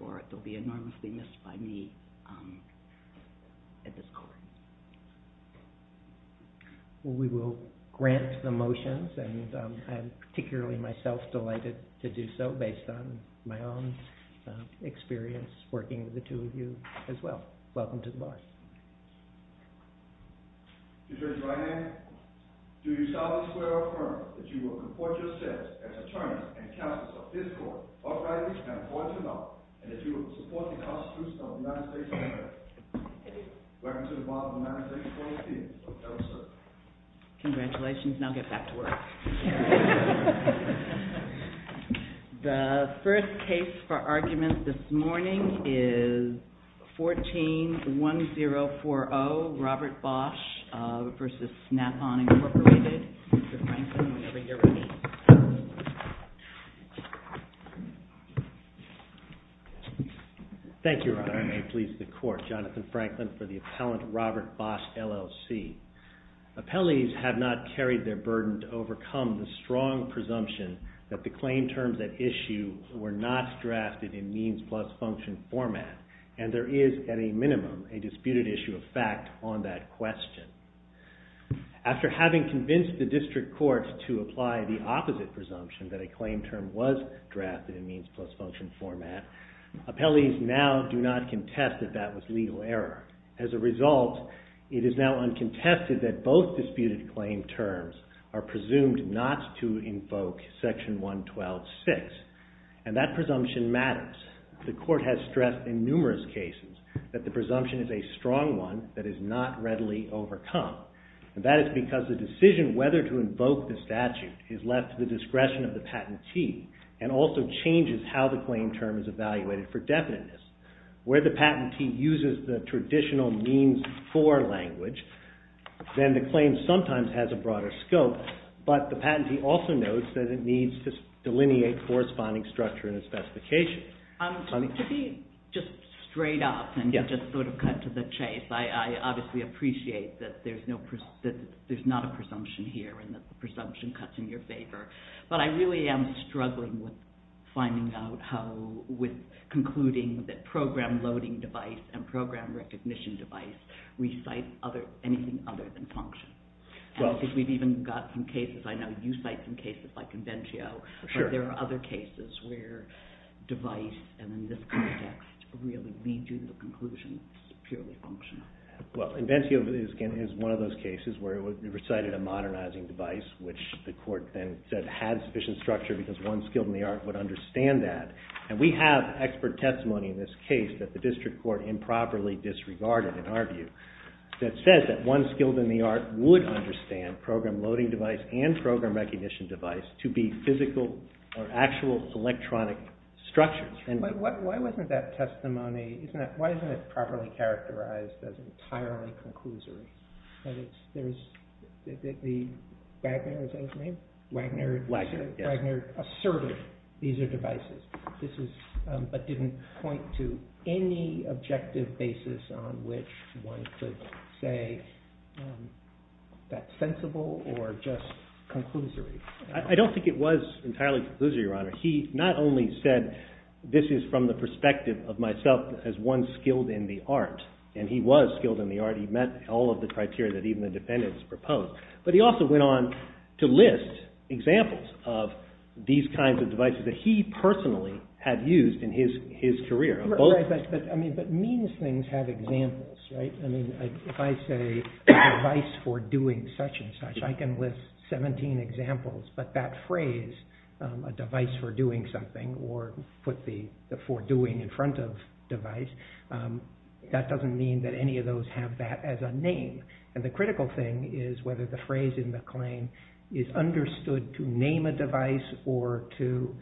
or it will be enormously missed by me at this court. We will grant the motions and I'm particularly myself delighted to do so based on my own experience working with the two of you as well. Welcome to the bar. Judge Ryan, do you solemnly swear or affirm that you will comport yourself as attorney and counsel of this court uprightly and affordably and that you will support the constitution of the United States of America? Welcome to the bar of the United States Court of Appeals. Congratulations, now get back to work. The first case for argument this morning is 14-1040, Robert Bosch v. Snap-On Incorporated. Mr. Franklin, whenever you're ready. Thank you, Your Honor, and may it please the court, Jonathan Franklin for the appellant Robert Bosch, LLC. Appellees have not carried their burden to overcome the strong presumption that the claim terms at issue were not drafted in means plus function format and there is at a minimum a disputed issue of fact on that question. After having convinced the district court to apply the opposite presumption that a claim term was drafted in means plus function format, appellees now do not contest that that was legal error. As a result, it is now uncontested that both disputed claim terms are presumed not to invoke section 112-6 and that presumption matters. The court has stressed in numerous cases that the presumption is a strong one that is not readily overcome. That is because the decision whether to invoke the statute is left to the discretion of the patentee and also changes how the claim term is evaluated for definiteness. Where the patentee uses the traditional means for language, then the claim sometimes has a broader scope, but the patentee also knows that it needs to delineate corresponding structure and specification. To be just straight up and just sort of cut to the chase, I obviously appreciate that there's not a presumption here and that the presumption cuts in your favor, but I really am struggling with finding out how, with concluding that program loading device and program recognition device recite anything other than function. Because we've even got some cases, I know you cite some cases like Invencio, but there are other cases where device and in this context really lead you to the conclusion that it's purely functional. Well, Invencio is one of those cases where it recited a modernizing device, which the court then said had sufficient structure because one skilled in the art would understand that. And we have expert testimony in this case that the district court improperly disregarded, in our view, that says that one skilled in the art would understand program loading device and program recognition device to be physical or actual electronic structures. Why isn't that testimony properly characterized as entirely conclusory? Wagner asserted these are devices, but didn't point to any objective basis on which one could say that's sensible or just conclusory. I don't think it was entirely conclusory, Your Honor. He not only said this is from the perspective of myself as one skilled in the art, and he was skilled in the art, he met all of the criteria that even the defendants proposed, but he also went on to list examples of these kinds of devices that he personally had used in his career. But means things have examples, right? I mean, if I say device for doing such and such, I can list 17 examples, but that phrase, a device for doing something, or put the for doing in front of device, that doesn't mean that any of those have that as a name. And the critical thing is whether the phrase in the claim is understood to name a device or to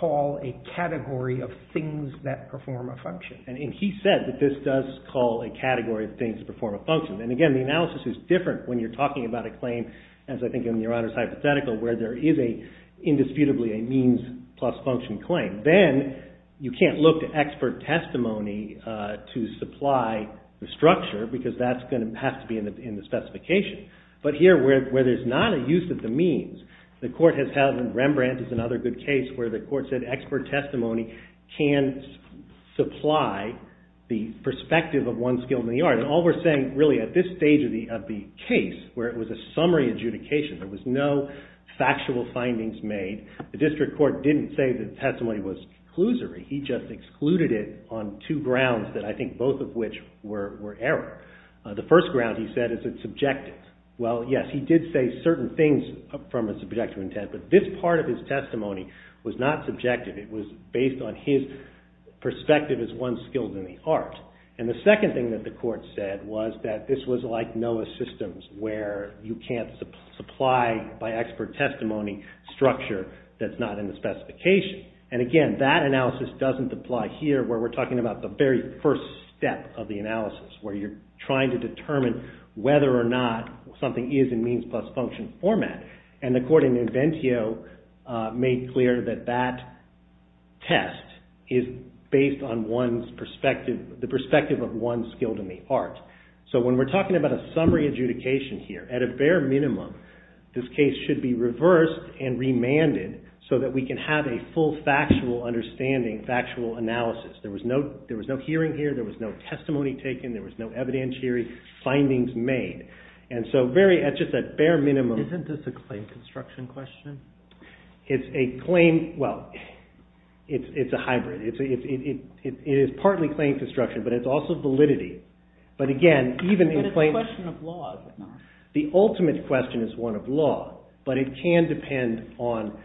call a category of things that perform a function. And he said that this does call a category of things that perform a function. And again, the analysis is different when you're talking about a claim, as I think in Your Honor's hypothetical, where there is indisputably a means plus function claim. Then, you can't look to expert testimony to supply the structure, because that's going to have to be in the specification. But here, where there's not a use of the means, the court has held, and Rembrandt is another good case, where the court said expert testimony can supply the perspective of one skilled in the art. And all we're saying, really, at this stage of the case, where it was a summary adjudication, there was no factual findings made, the district court didn't say the testimony was conclusory. He just excluded it on two grounds that I think both of which were error. The first ground, he said, is that it's subjective. Well, yes, he did say certain things from a subjective intent, but this part of his testimony was not subjective. It was based on his perspective as one skilled in the art. And the second thing that the court said was that this was like NOAA systems, where you can't supply, by expert testimony, structure that's not in the specification. And again, that analysis doesn't apply here, where we're talking about the very first step of the analysis, where you're trying to determine whether or not something is in means plus function format. And the court in Inventio made clear that that test is based on the perspective of one skilled in the art. So when we're talking about a summary adjudication here, at a bare minimum, this case should be reversed and remanded so that we can have a full factual understanding, factual analysis. There was no hearing here. There was no testimony taken. There was no evidentiary findings made. And so very, at just that bare minimum… Isn't this a claim construction question? It's a claim, well, it's a hybrid. It is partly claim construction, but it's also validity. But again, even in claim… But it's a question of law, is it not? The ultimate question is one of law, but it can depend on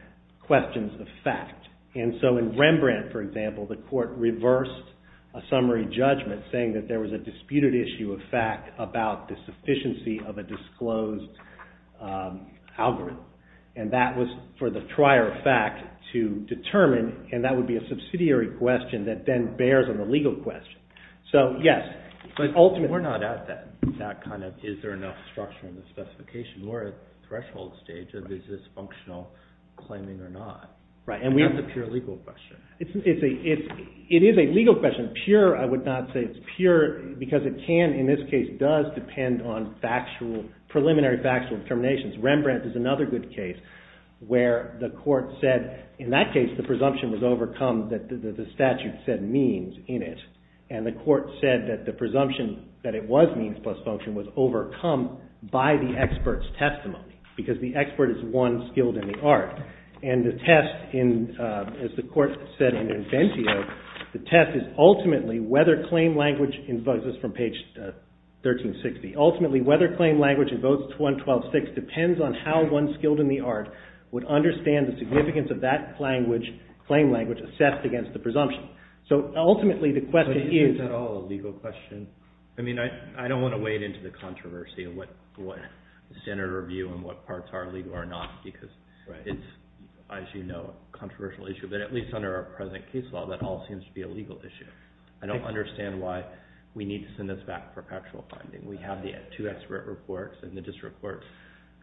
questions of fact. And so in Rembrandt, for example, the court reversed a summary judgment saying that there was a disputed issue of fact about the sufficiency of a disclosed algorithm. And that was for the prior fact to determine, and that would be a subsidiary question that then bears on the legal question. But we're not at that kind of, is there enough structure in the specification. We're at the threshold stage of, is this functional claiming or not? Right. That's a pure legal question. It is a legal question. Pure, I would not say it's pure, because it can, in this case, does depend on factual, preliminary factual determinations. Rembrandt is another good case where the court said, in that case, the presumption was overcome that the statute said means in it. And the court said that the presumption that it was means plus function was overcome by the expert's testimony, because the expert is one skilled in the art. And the test in, as the court said in Bentio, the test is ultimately whether claim language invokes, this is from page 1360, ultimately whether claim language invokes 126 depends on how one skilled in the art would understand the significance of that claim language assessed against the presumption. So ultimately the question is. But is this at all a legal question? I mean, I don't want to wade into the controversy of what standard review and what parts are legal or not, because it's, as you know, a controversial issue. But at least under our present case law, that all seems to be a legal issue. I don't understand why we need to send this back for factual finding. We have the two expert reports and the district court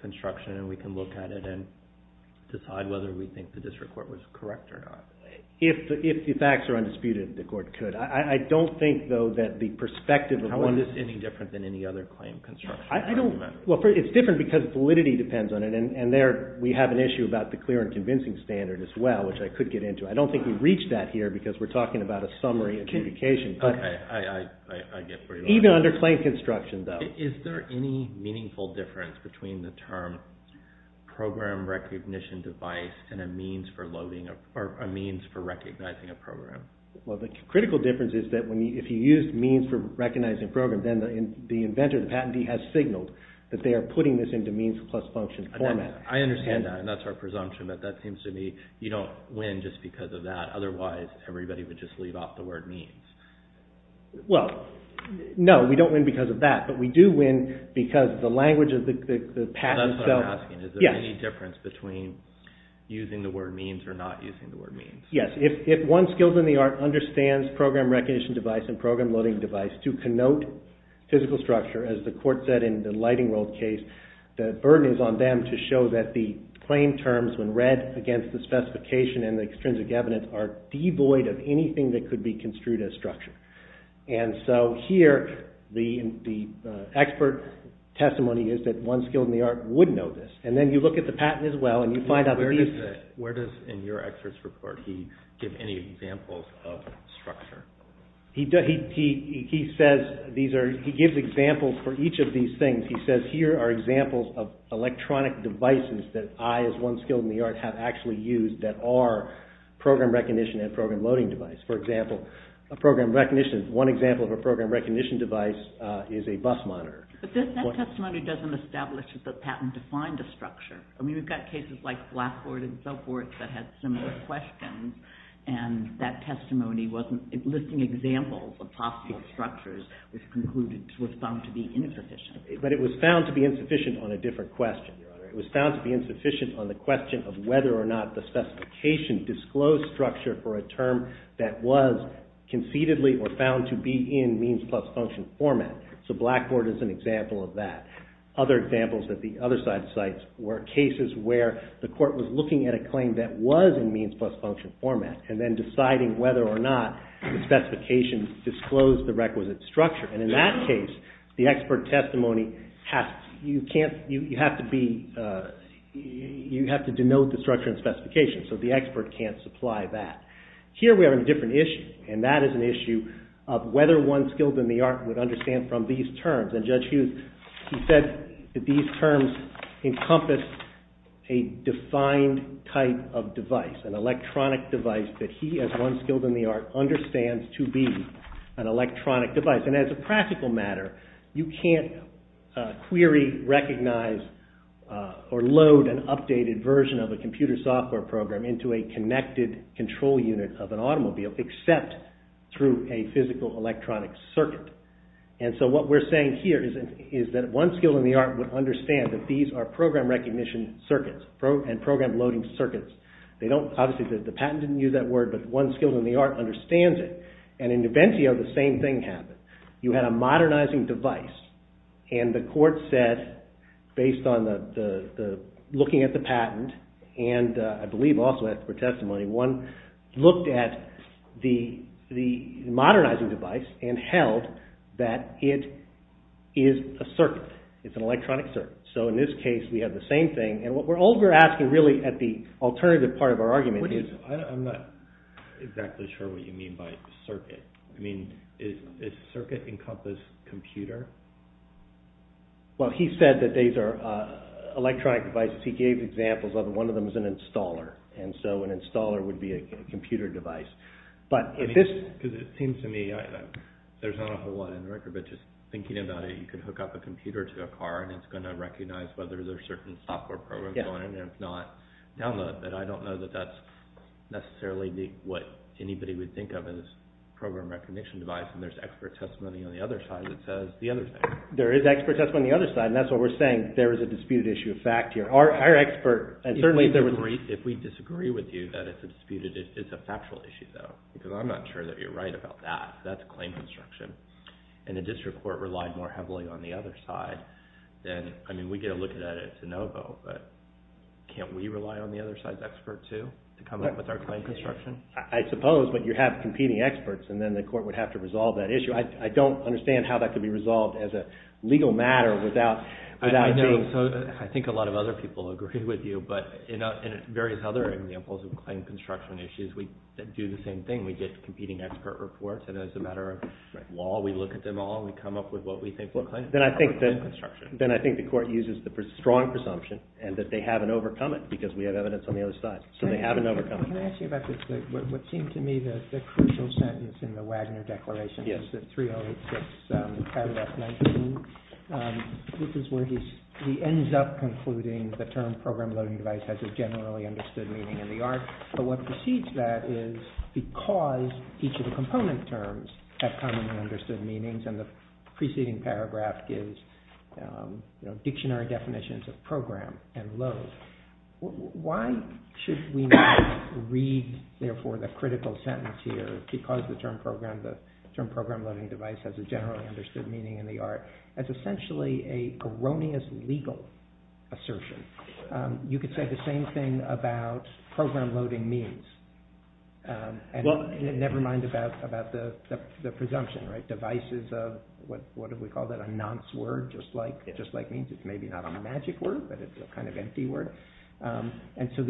construction, and we can look at it and decide whether we think the district court was correct or not. If the facts are undisputed, the court could. I don't think, though, that the perspective of one. How is this any different than any other claim construction? I don't. Well, it's different because validity depends on it. And there we have an issue about the clear and convincing standard as well, which I could get into. I don't think we've reached that here because we're talking about a summary of communication. Okay. I get where you're going. Even under claim construction, though. Is there any meaningful difference between the term program recognition device and a means for recognizing a program? Well, the critical difference is that if you use means for recognizing a program, then the inventor, the patentee, has signaled that they are putting this into means plus function format. I understand that, and that's our presumption. But that seems to me you don't win just because of that. Otherwise, everybody would just leave off the word means. Well, no. We don't win because of that. But we do win because the language of the patent itself. That's what I'm asking. Is there any difference between using the word means or not using the word means? Yes. If one skilled in the art understands program recognition device and program loading device to connote physical structure, as the court said in the lighting world case, the burden is on them to show that the claim terms, when read against the specification and the extrinsic evidence, are devoid of anything that could be construed as structure. And so here, the expert testimony is that one skilled in the art would know this. And then you look at the patent as well, and you find out that these… Where does, in your expert's report, he give any examples of structure? He says these are – he gives examples for each of these things. And he says here are examples of electronic devices that I, as one skilled in the art, have actually used that are program recognition and program loading device. For example, a program recognition – one example of a program recognition device is a bus monitor. But that testimony doesn't establish that the patent defined a structure. I mean, we've got cases like Blackboard and so forth that had similar questions. And that testimony wasn't listing examples of possible structures, which concluded – was found to be insufficient. But it was found to be insufficient on a different question. It was found to be insufficient on the question of whether or not the specification disclosed structure for a term that was conceitedly or found to be in means plus function format. So Blackboard is an example of that. Other examples that the other side cites were cases where the court was looking at a claim that was in means plus function format and then deciding whether or not the specifications disclosed the requisite structure. And in that case, the expert testimony has – you can't – you have to be – you have to denote the structure and specification. So the expert can't supply that. Here we are in a different issue. And that is an issue of whether one skilled in the art would understand from these terms. And Judge Hughes, he said that these terms encompass a defined type of device, an electronic device, that he, as one skilled in the art, understands to be an electronic device. And as a practical matter, you can't query, recognize, or load an updated version of a computer software program into a connected control unit of an automobile except through a physical electronic circuit. And so what we're saying here is that one skilled in the art would understand that these are program recognition circuits and program loading circuits. They don't – obviously the patent didn't use that word, but one skilled in the art understands it. And in Nuventio, the same thing happened. You had a modernizing device, and the court said, based on the – looking at the patent, and I believe also expert testimony, one looked at the modernizing device and held that it is a circuit. It's an electronic circuit. So in this case, we have the same thing. And what we're asking really at the alternative part of our argument is – I mean, is circuit encompass computer? Well, he said that these are electronic devices. He gave examples of them. One of them is an installer. And so an installer would be a computer device. But if this – Because it seems to me there's not a whole lot in the record, but just thinking about it, you could hook up a computer to a car, and it's going to recognize whether there's a certain software program going on, and if not, download it. But I don't know that that's necessarily what anybody would think of as a program recognition device. And there's expert testimony on the other side that says the other thing. There is expert testimony on the other side, and that's what we're saying. There is a disputed issue of fact here. Our expert – If we disagree with you that it's a disputed – it's a factual issue, though, because I'm not sure that you're right about that. That's a claim construction. And the district court relied more heavily on the other side. I mean, we get a look at it to no vote, but can't we rely on the other side's expert, too, to come up with our claim construction? I suppose, but you have competing experts, and then the court would have to resolve that issue. I don't understand how that could be resolved as a legal matter without – I think a lot of other people agree with you, but in various other examples of claim construction issues, we do the same thing. We get competing expert reports, and as a matter of law, we look at them all. We come up with what we think will claim construction. Then I think the court uses the strong presumption, and that they haven't overcome it because we have evidence on the other side. So they haven't overcome it. Can I ask you about this? What seemed to me the crucial sentence in the Wagner Declaration is that 3086 added up 19. This is where he ends up concluding the term program loading device has a generally understood meaning in the art. But what precedes that is because each of the component terms have commonly understood meanings, and the preceding paragraph gives dictionary definitions of program and load, why should we not read, therefore, the critical sentence here, because the term program loading device has a generally understood meaning in the art, as essentially a erroneous legal assertion? You could say the same thing about program loading means, never mind about the presumption, right? Devices of, what do we call that? A nonce word, just like means. It's maybe not a magic word, but it's a kind of empty word. So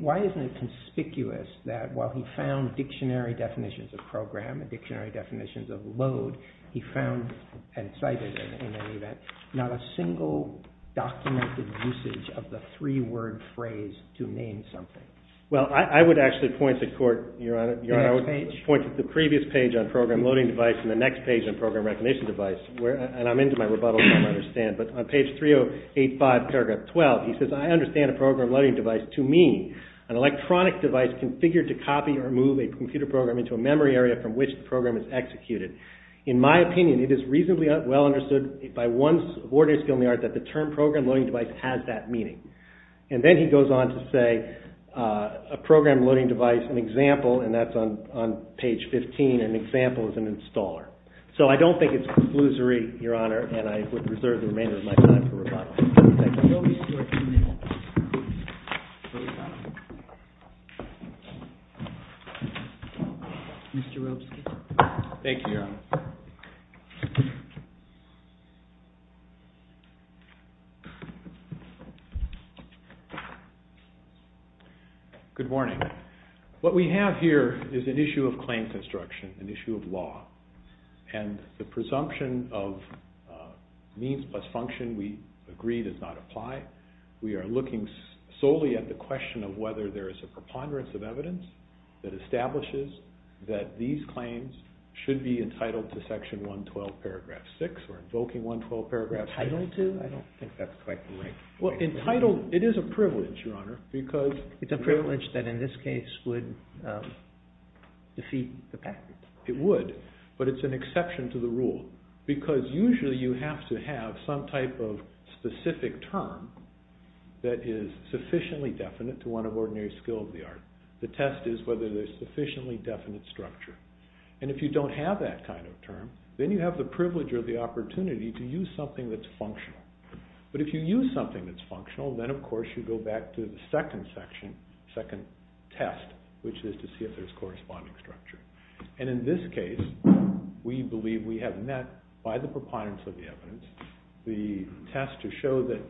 why isn't it conspicuous that while he found dictionary definitions of program and dictionary definitions of load, he found and cited in any event not a single documented usage of the three-word phrase to name something? Well, I would actually point to court, Your Honor. I would point to the previous page on program loading device and the next page on program recognition device, and I'm into my rebuttals, I understand. But on page 3085, paragraph 12, he says, I understand a program loading device to mean an electronic device configured to copy or move a computer program into a memory area from which the program is executed. In my opinion, it is reasonably well understood by one's ordinary skill in the art that the term program loading device has that meaning. And then he goes on to say a program loading device, an example, and that's on page 15, an example is an installer. So I don't think it's conclusory, Your Honor, and I would reserve the remainder of my time for rebuttals. Thank you. Mr. Robeson. Thank you, Your Honor. Good morning. What we have here is an issue of claim construction, an issue of law, and the presumption of means plus function we agree does not apply. We are looking solely at the question of whether there is a preponderance of evidence that establishes that these claims should be entitled to section 112, paragraph 6, or invoking 112, paragraph 6. Entitled to? I don't think that's quite right. Well, entitled, it is a privilege, Your Honor, because It's a privilege that in this case would defeat the patent. It would, but it's an exception to the rule, because usually you have to have some type of specific term that is sufficiently definite to one of ordinary skill of the art. The test is whether there's sufficiently definite structure. And if you don't have that kind of term, then you have the privilege or the opportunity to use something that's functional. But if you use something that's functional, then of course you go back to the second section, second test, which is to see if there's corresponding structure. And in this case, we believe we have met, by the preponderance of the evidence, the test to show that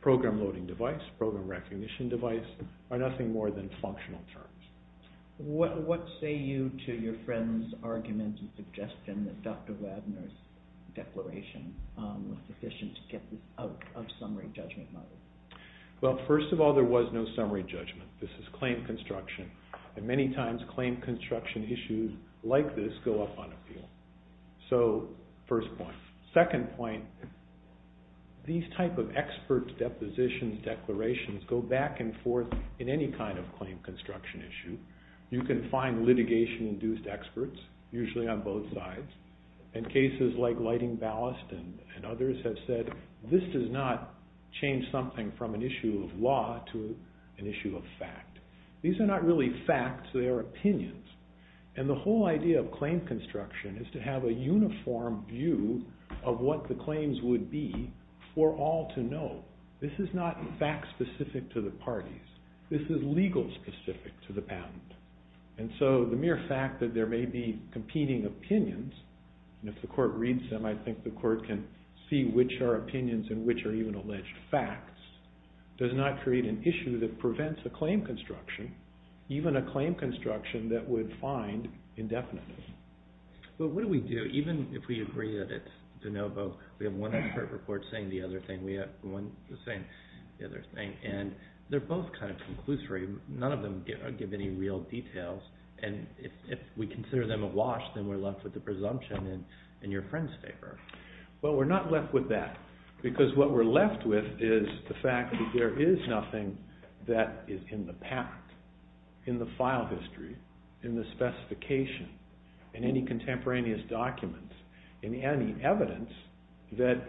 program loading device, program recognition device, are nothing more than functional terms. What say you to your friend's argument and suggestion that Dr. Ladner's declaration was sufficient to get out of summary judgment model? Well, first of all, there was no summary judgment. This is claim construction. And many times claim construction issues like this go up on appeal. So, first point. Second point, these type of experts' depositions, declarations, go back and forth in any kind of claim construction issue. You can find litigation-induced experts, usually on both sides. And cases like Lighting Ballast and others have said, this does not change something from an issue of law to an issue of fact. These are not really facts, they are opinions. And the whole idea of claim construction is to have a uniform view of what the claims would be for all to know. This is not fact-specific to the parties. This is legal-specific to the patent. And so the mere fact that there may be competing opinions, and if the court reads them, I think the court can see which are opinions and which are even alleged facts, does not create an issue that prevents a claim construction, even a claim construction that would find indefinite. But what do we do, even if we agree that it's de novo, we have one expert report saying the other thing, we have one saying the other thing, and they're both kind of conclusory. None of them give any real details. And if we consider them awash, then we're left with the presumption in your friend's favor. Well, we're not left with that. Because what we're left with is the fact that there is nothing that is in the patent, in the file history, in the specification, in any contemporaneous documents, in any evidence that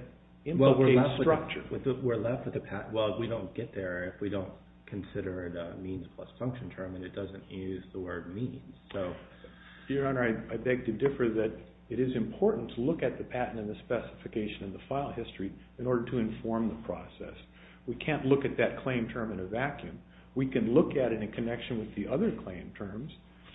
implicates structure. We're left with the patent. Well, we don't get there if we don't consider it a means plus function term, and it doesn't use the word means. Your Honor, I beg to differ that it is important to look at the patent and the specification and the file history in order to inform the process. We can't look at that claim term in a vacuum. We can look at it in connection with the other claim terms,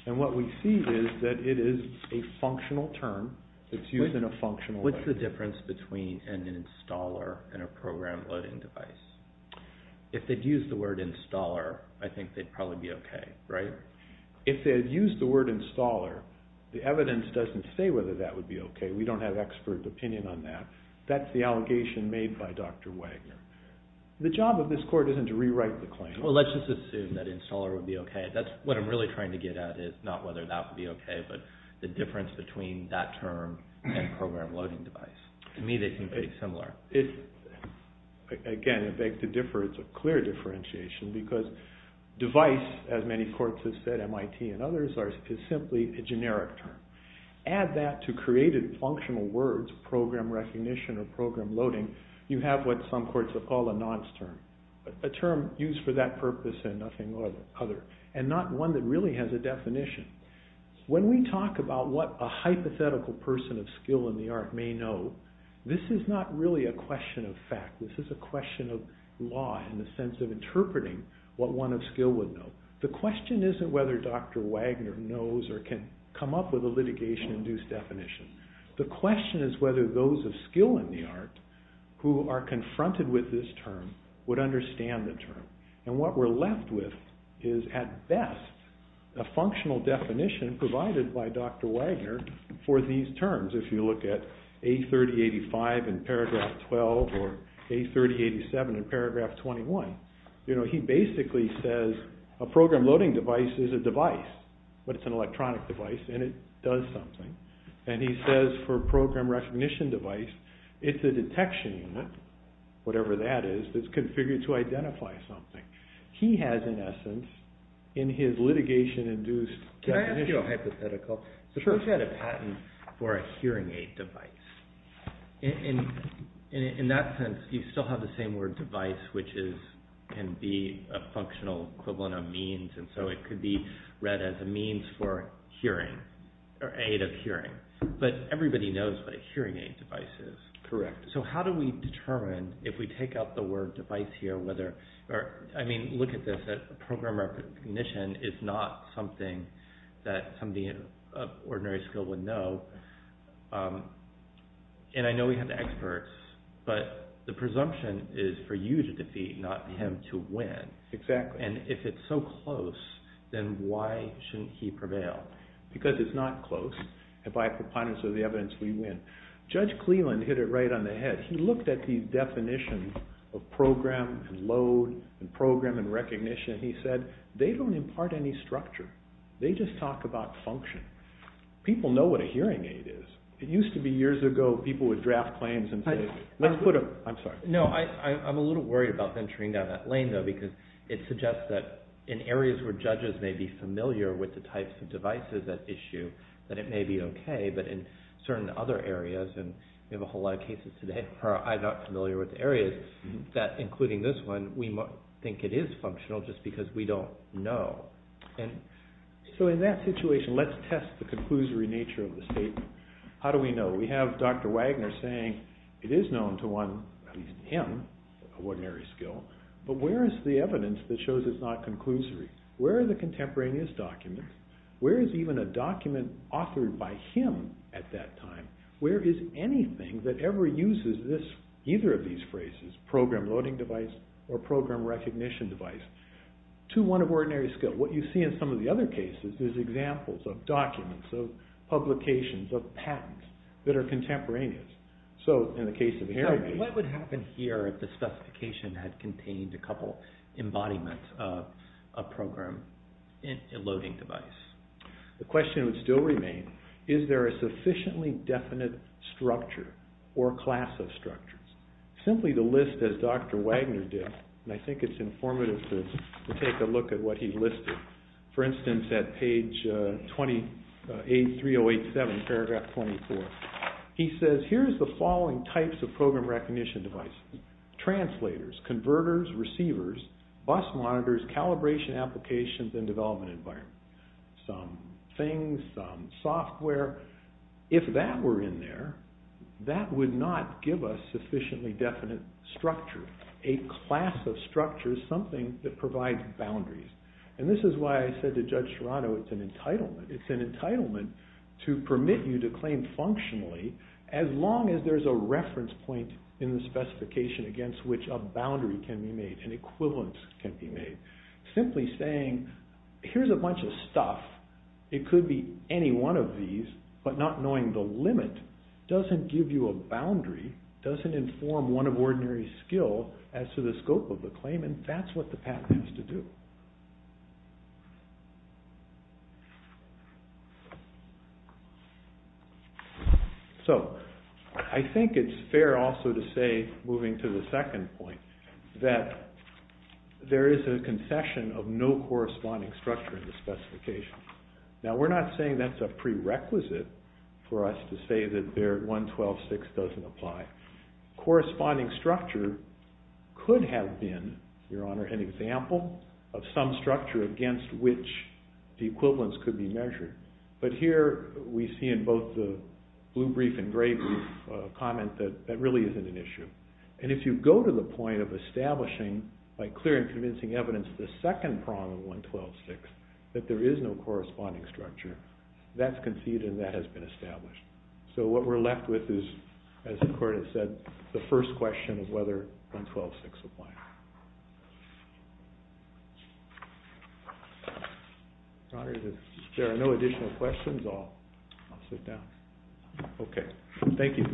and what we see is that it is a functional term that's used in a functional way. What's the difference between an installer and a program loading device? If they'd used the word installer, I think they'd probably be okay, right? If they'd used the word installer, the evidence doesn't say whether that would be okay. We don't have expert opinion on that. That's the allegation made by Dr. Wagner. The job of this court isn't to rewrite the claim. Well, let's just assume that installer would be okay. That's what I'm really trying to get at is not whether that would be okay, but the difference between that term and program loading device. To me, they seem pretty similar. Again, I beg to differ. It's a clear differentiation because device, as many courts have said, MIT and others, is simply a generic term. Add that to created functional words, program recognition or program loading, you have what some courts have called a nonce term, a term used for that purpose and nothing other, and not one that really has a definition. When we talk about what a hypothetical person of skill in the art may know, this is not really a question of fact. This is a question of law in the sense of interpreting what one of skill would know. The question isn't whether Dr. Wagner knows or can come up with a litigation-induced definition. The question is whether those of skill in the art who are confronted with this term would understand the term. What we're left with is, at best, a functional definition provided by Dr. Wagner for these terms. If you look at A3085 in paragraph 12 or A3087 in paragraph 21, he basically says a program loading device is a device, but it's an electronic device and it does something. He says for program recognition device, it's a detection unit, whatever that is, that's configured to identify something. He has, in essence, in his litigation-induced definition... Can I ask you a hypothetical? Suppose you had a patent for a hearing aid device. In that sense, you still have the same word device, which can be a functional equivalent of means, and so it could be read as a means for hearing or aid of hearing. But everybody knows what a hearing aid device is. Correct. So how do we determine, if we take out the word device here, whether... I mean, look at this. Program recognition is not something that somebody of ordinary skill would know. And I know we have experts, but the presumption is for you to defeat, not him to win. Exactly. And if it's so close, then why shouldn't he prevail? Because it's not close, and by preponderance of the evidence, we win. Judge Cleland hit it right on the head. He looked at the definition of program and load and program and recognition. He said, they don't impart any structure. They just talk about function. People know what a hearing aid is. It used to be, years ago, people would draft claims and say, let's put a... I'm sorry. No, I'm a little worried about venturing down that lane, though, because it suggests that in areas where judges may be familiar with the types of devices at issue, that it may be okay, but in certain other areas, and we have a whole lot of cases today where I'm not familiar with areas, that, including this one, we think it is functional just because we don't know. So in that situation, let's test the conclusory nature of the statement. How do we know? We have Dr. Wagner saying it is known to one, at least him, of ordinary skill, but where is the evidence that shows it's not conclusory? Where are the contemporaneous documents? Where is even a document authored by him at that time? Where is anything that ever uses either of these phrases, program loading device or program recognition device, to one of ordinary skill? What you see in some of the other cases is examples of documents, of publications, of patents that are contemporaneous. So in the case of Harambee... What would happen here if the specification had contained a couple embodiments of a program loading device? The question would still remain, is there a sufficiently definite structure or class of structures? Simply to list as Dr. Wagner did, and I think it's informative to take a look at what he listed. For instance, at page 83087, paragraph 24, he says, here's the following types of program recognition devices. Translators, converters, receivers, bus monitors, calibration applications, and development environment. Some things, some software. If that were in there, that would not give us sufficiently definite structure. A class of structures, something that provides boundaries. And this is why I said to Judge Serrano it's an entitlement. It's an entitlement to permit you to claim functionally as long as there's a reference point in the specification against which a boundary can be made, an equivalence can be made. Simply saying, here's a bunch of stuff. It could be any one of these, but not knowing the limit doesn't give you a boundary, doesn't inform one of ordinary skill as to the scope of the claim, and that's what the patent has to do. So, I think it's fair also to say, moving to the second point, that there is a concession of no corresponding structure in the specification. Now, we're not saying that's a prerequisite for us to say that their 112.6 doesn't apply. Corresponding structure could have been, Your Honor, an example of some structure against which the equivalence could be measured. But here we see in both the blue brief and gray brief a comment that that really isn't an issue. And if you go to the point of establishing, by clear and convincing evidence, the second prong of 112.6, that there is no corresponding structure, that's conceived and that has been established. So what we're left with is, as the Court has said, the first question of whether 112.6 applies. Your Honor, if there are no additional questions, I'll sit down. Okay. Thank you.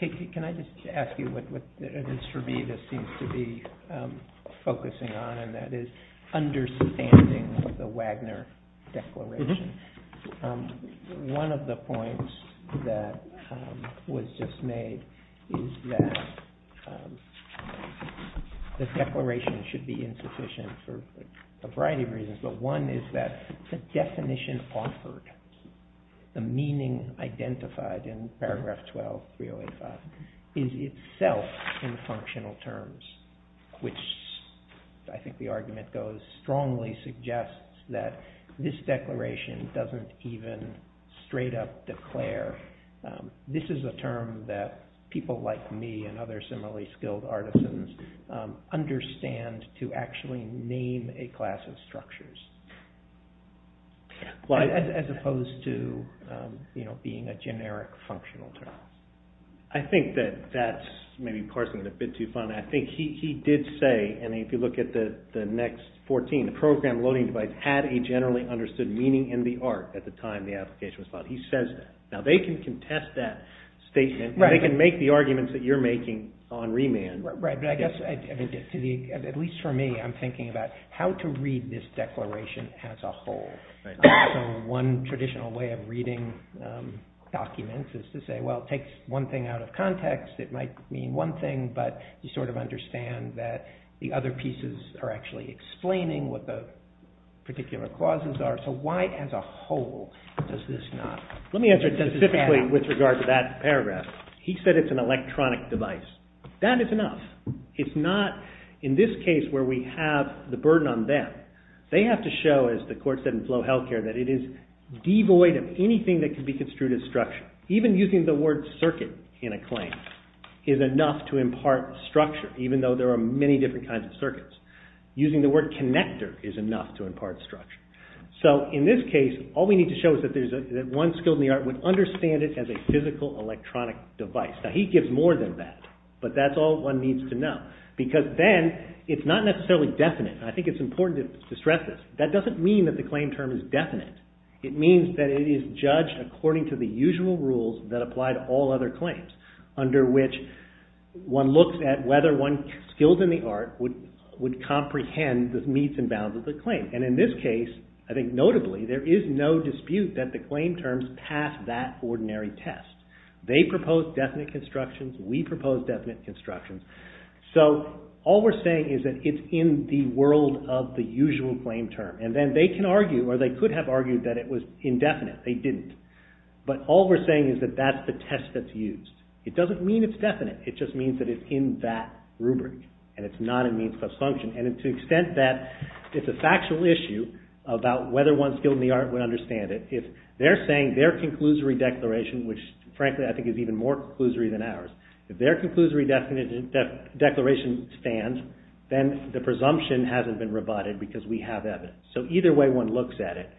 Thank you. Can I just ask you what it is for me this seems to be focusing on, and that is understanding of the Wagner Declaration. One of the points that was just made is that the declaration should be insufficient for a variety of reasons. But one is that the definition offered, the meaning identified in paragraph 12, 3085, is itself in functional terms, which I think the argument goes strongly suggests that this declaration doesn't even straight up declare. This is a term that people like me and other similarly skilled artisans understand to actually name a class of structures, as opposed to being a generic functional term. I think that that's maybe parsing it a bit too far. I think he did say, and if you look at the next 14, the program loading device had a generally understood meaning in the art at the time the application was filed. He says that. Now they can contest that statement. They can make the arguments that you're making on remand. Right, but I guess, at least for me, I'm thinking about how to read this declaration as a whole. One traditional way of reading documents is to say, well, it takes one thing out of context. It might mean one thing, but you sort of understand that the other pieces are actually explaining what the particular clauses are. So why as a whole does this not? Let me answer this specifically with regard to that paragraph. He said it's an electronic device. That is enough. It's not in this case where we have the burden on them. They have to show, as the court said in Flow Healthcare, that it is devoid of anything that can be construed as structure. Even using the word circuit in a claim is enough to impart structure, even though there are many different kinds of circuits. Using the word connector is enough to impart structure. So in this case, all we need to show is that one skilled in the art would understand it as a physical electronic device. Now he gives more than that, but that's all one needs to know, because then it's not necessarily definite. I think it's important to stress this. That doesn't mean that the claim term is definite. It means that it is judged according to the usual rules that apply to all other claims, under which one looks at whether one skilled in the art would comprehend the means and bounds of the claim. And in this case, I think notably, there is no dispute that the claim terms pass that ordinary test. They propose definite constructions. We propose definite constructions. So all we're saying is that it's in the world of the usual claim term. And then they can argue, or they could have argued, that it was indefinite. They didn't. But all we're saying is that that's the test that's used. It doesn't mean it's definite. It just means that it's in that rubric, and it's not in means plus function. And to the extent that it's a factual issue about whether one skilled in the art would understand it, if they're saying their conclusory declaration, which frankly I think is even more conclusory than ours, if their conclusory declaration stands, then the presumption hasn't been rebutted because we have evidence. So either way one looks at it,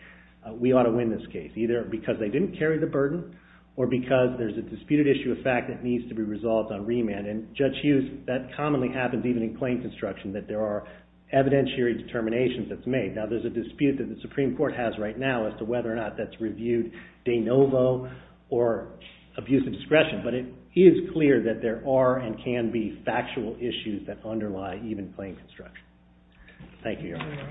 we ought to win this case, either because they didn't carry the burden or because there's a disputed issue of fact that needs to be resolved on remand. And Judge Hughes, that commonly happens even in claim construction, that there are evidentiary determinations that's made. Now there's a dispute that the Supreme Court has right now as to whether or not that's reviewed de novo or abuse of discretion, but it is clear that there are and can be factual issues that underlie even claim construction. Thank you, Your Honor.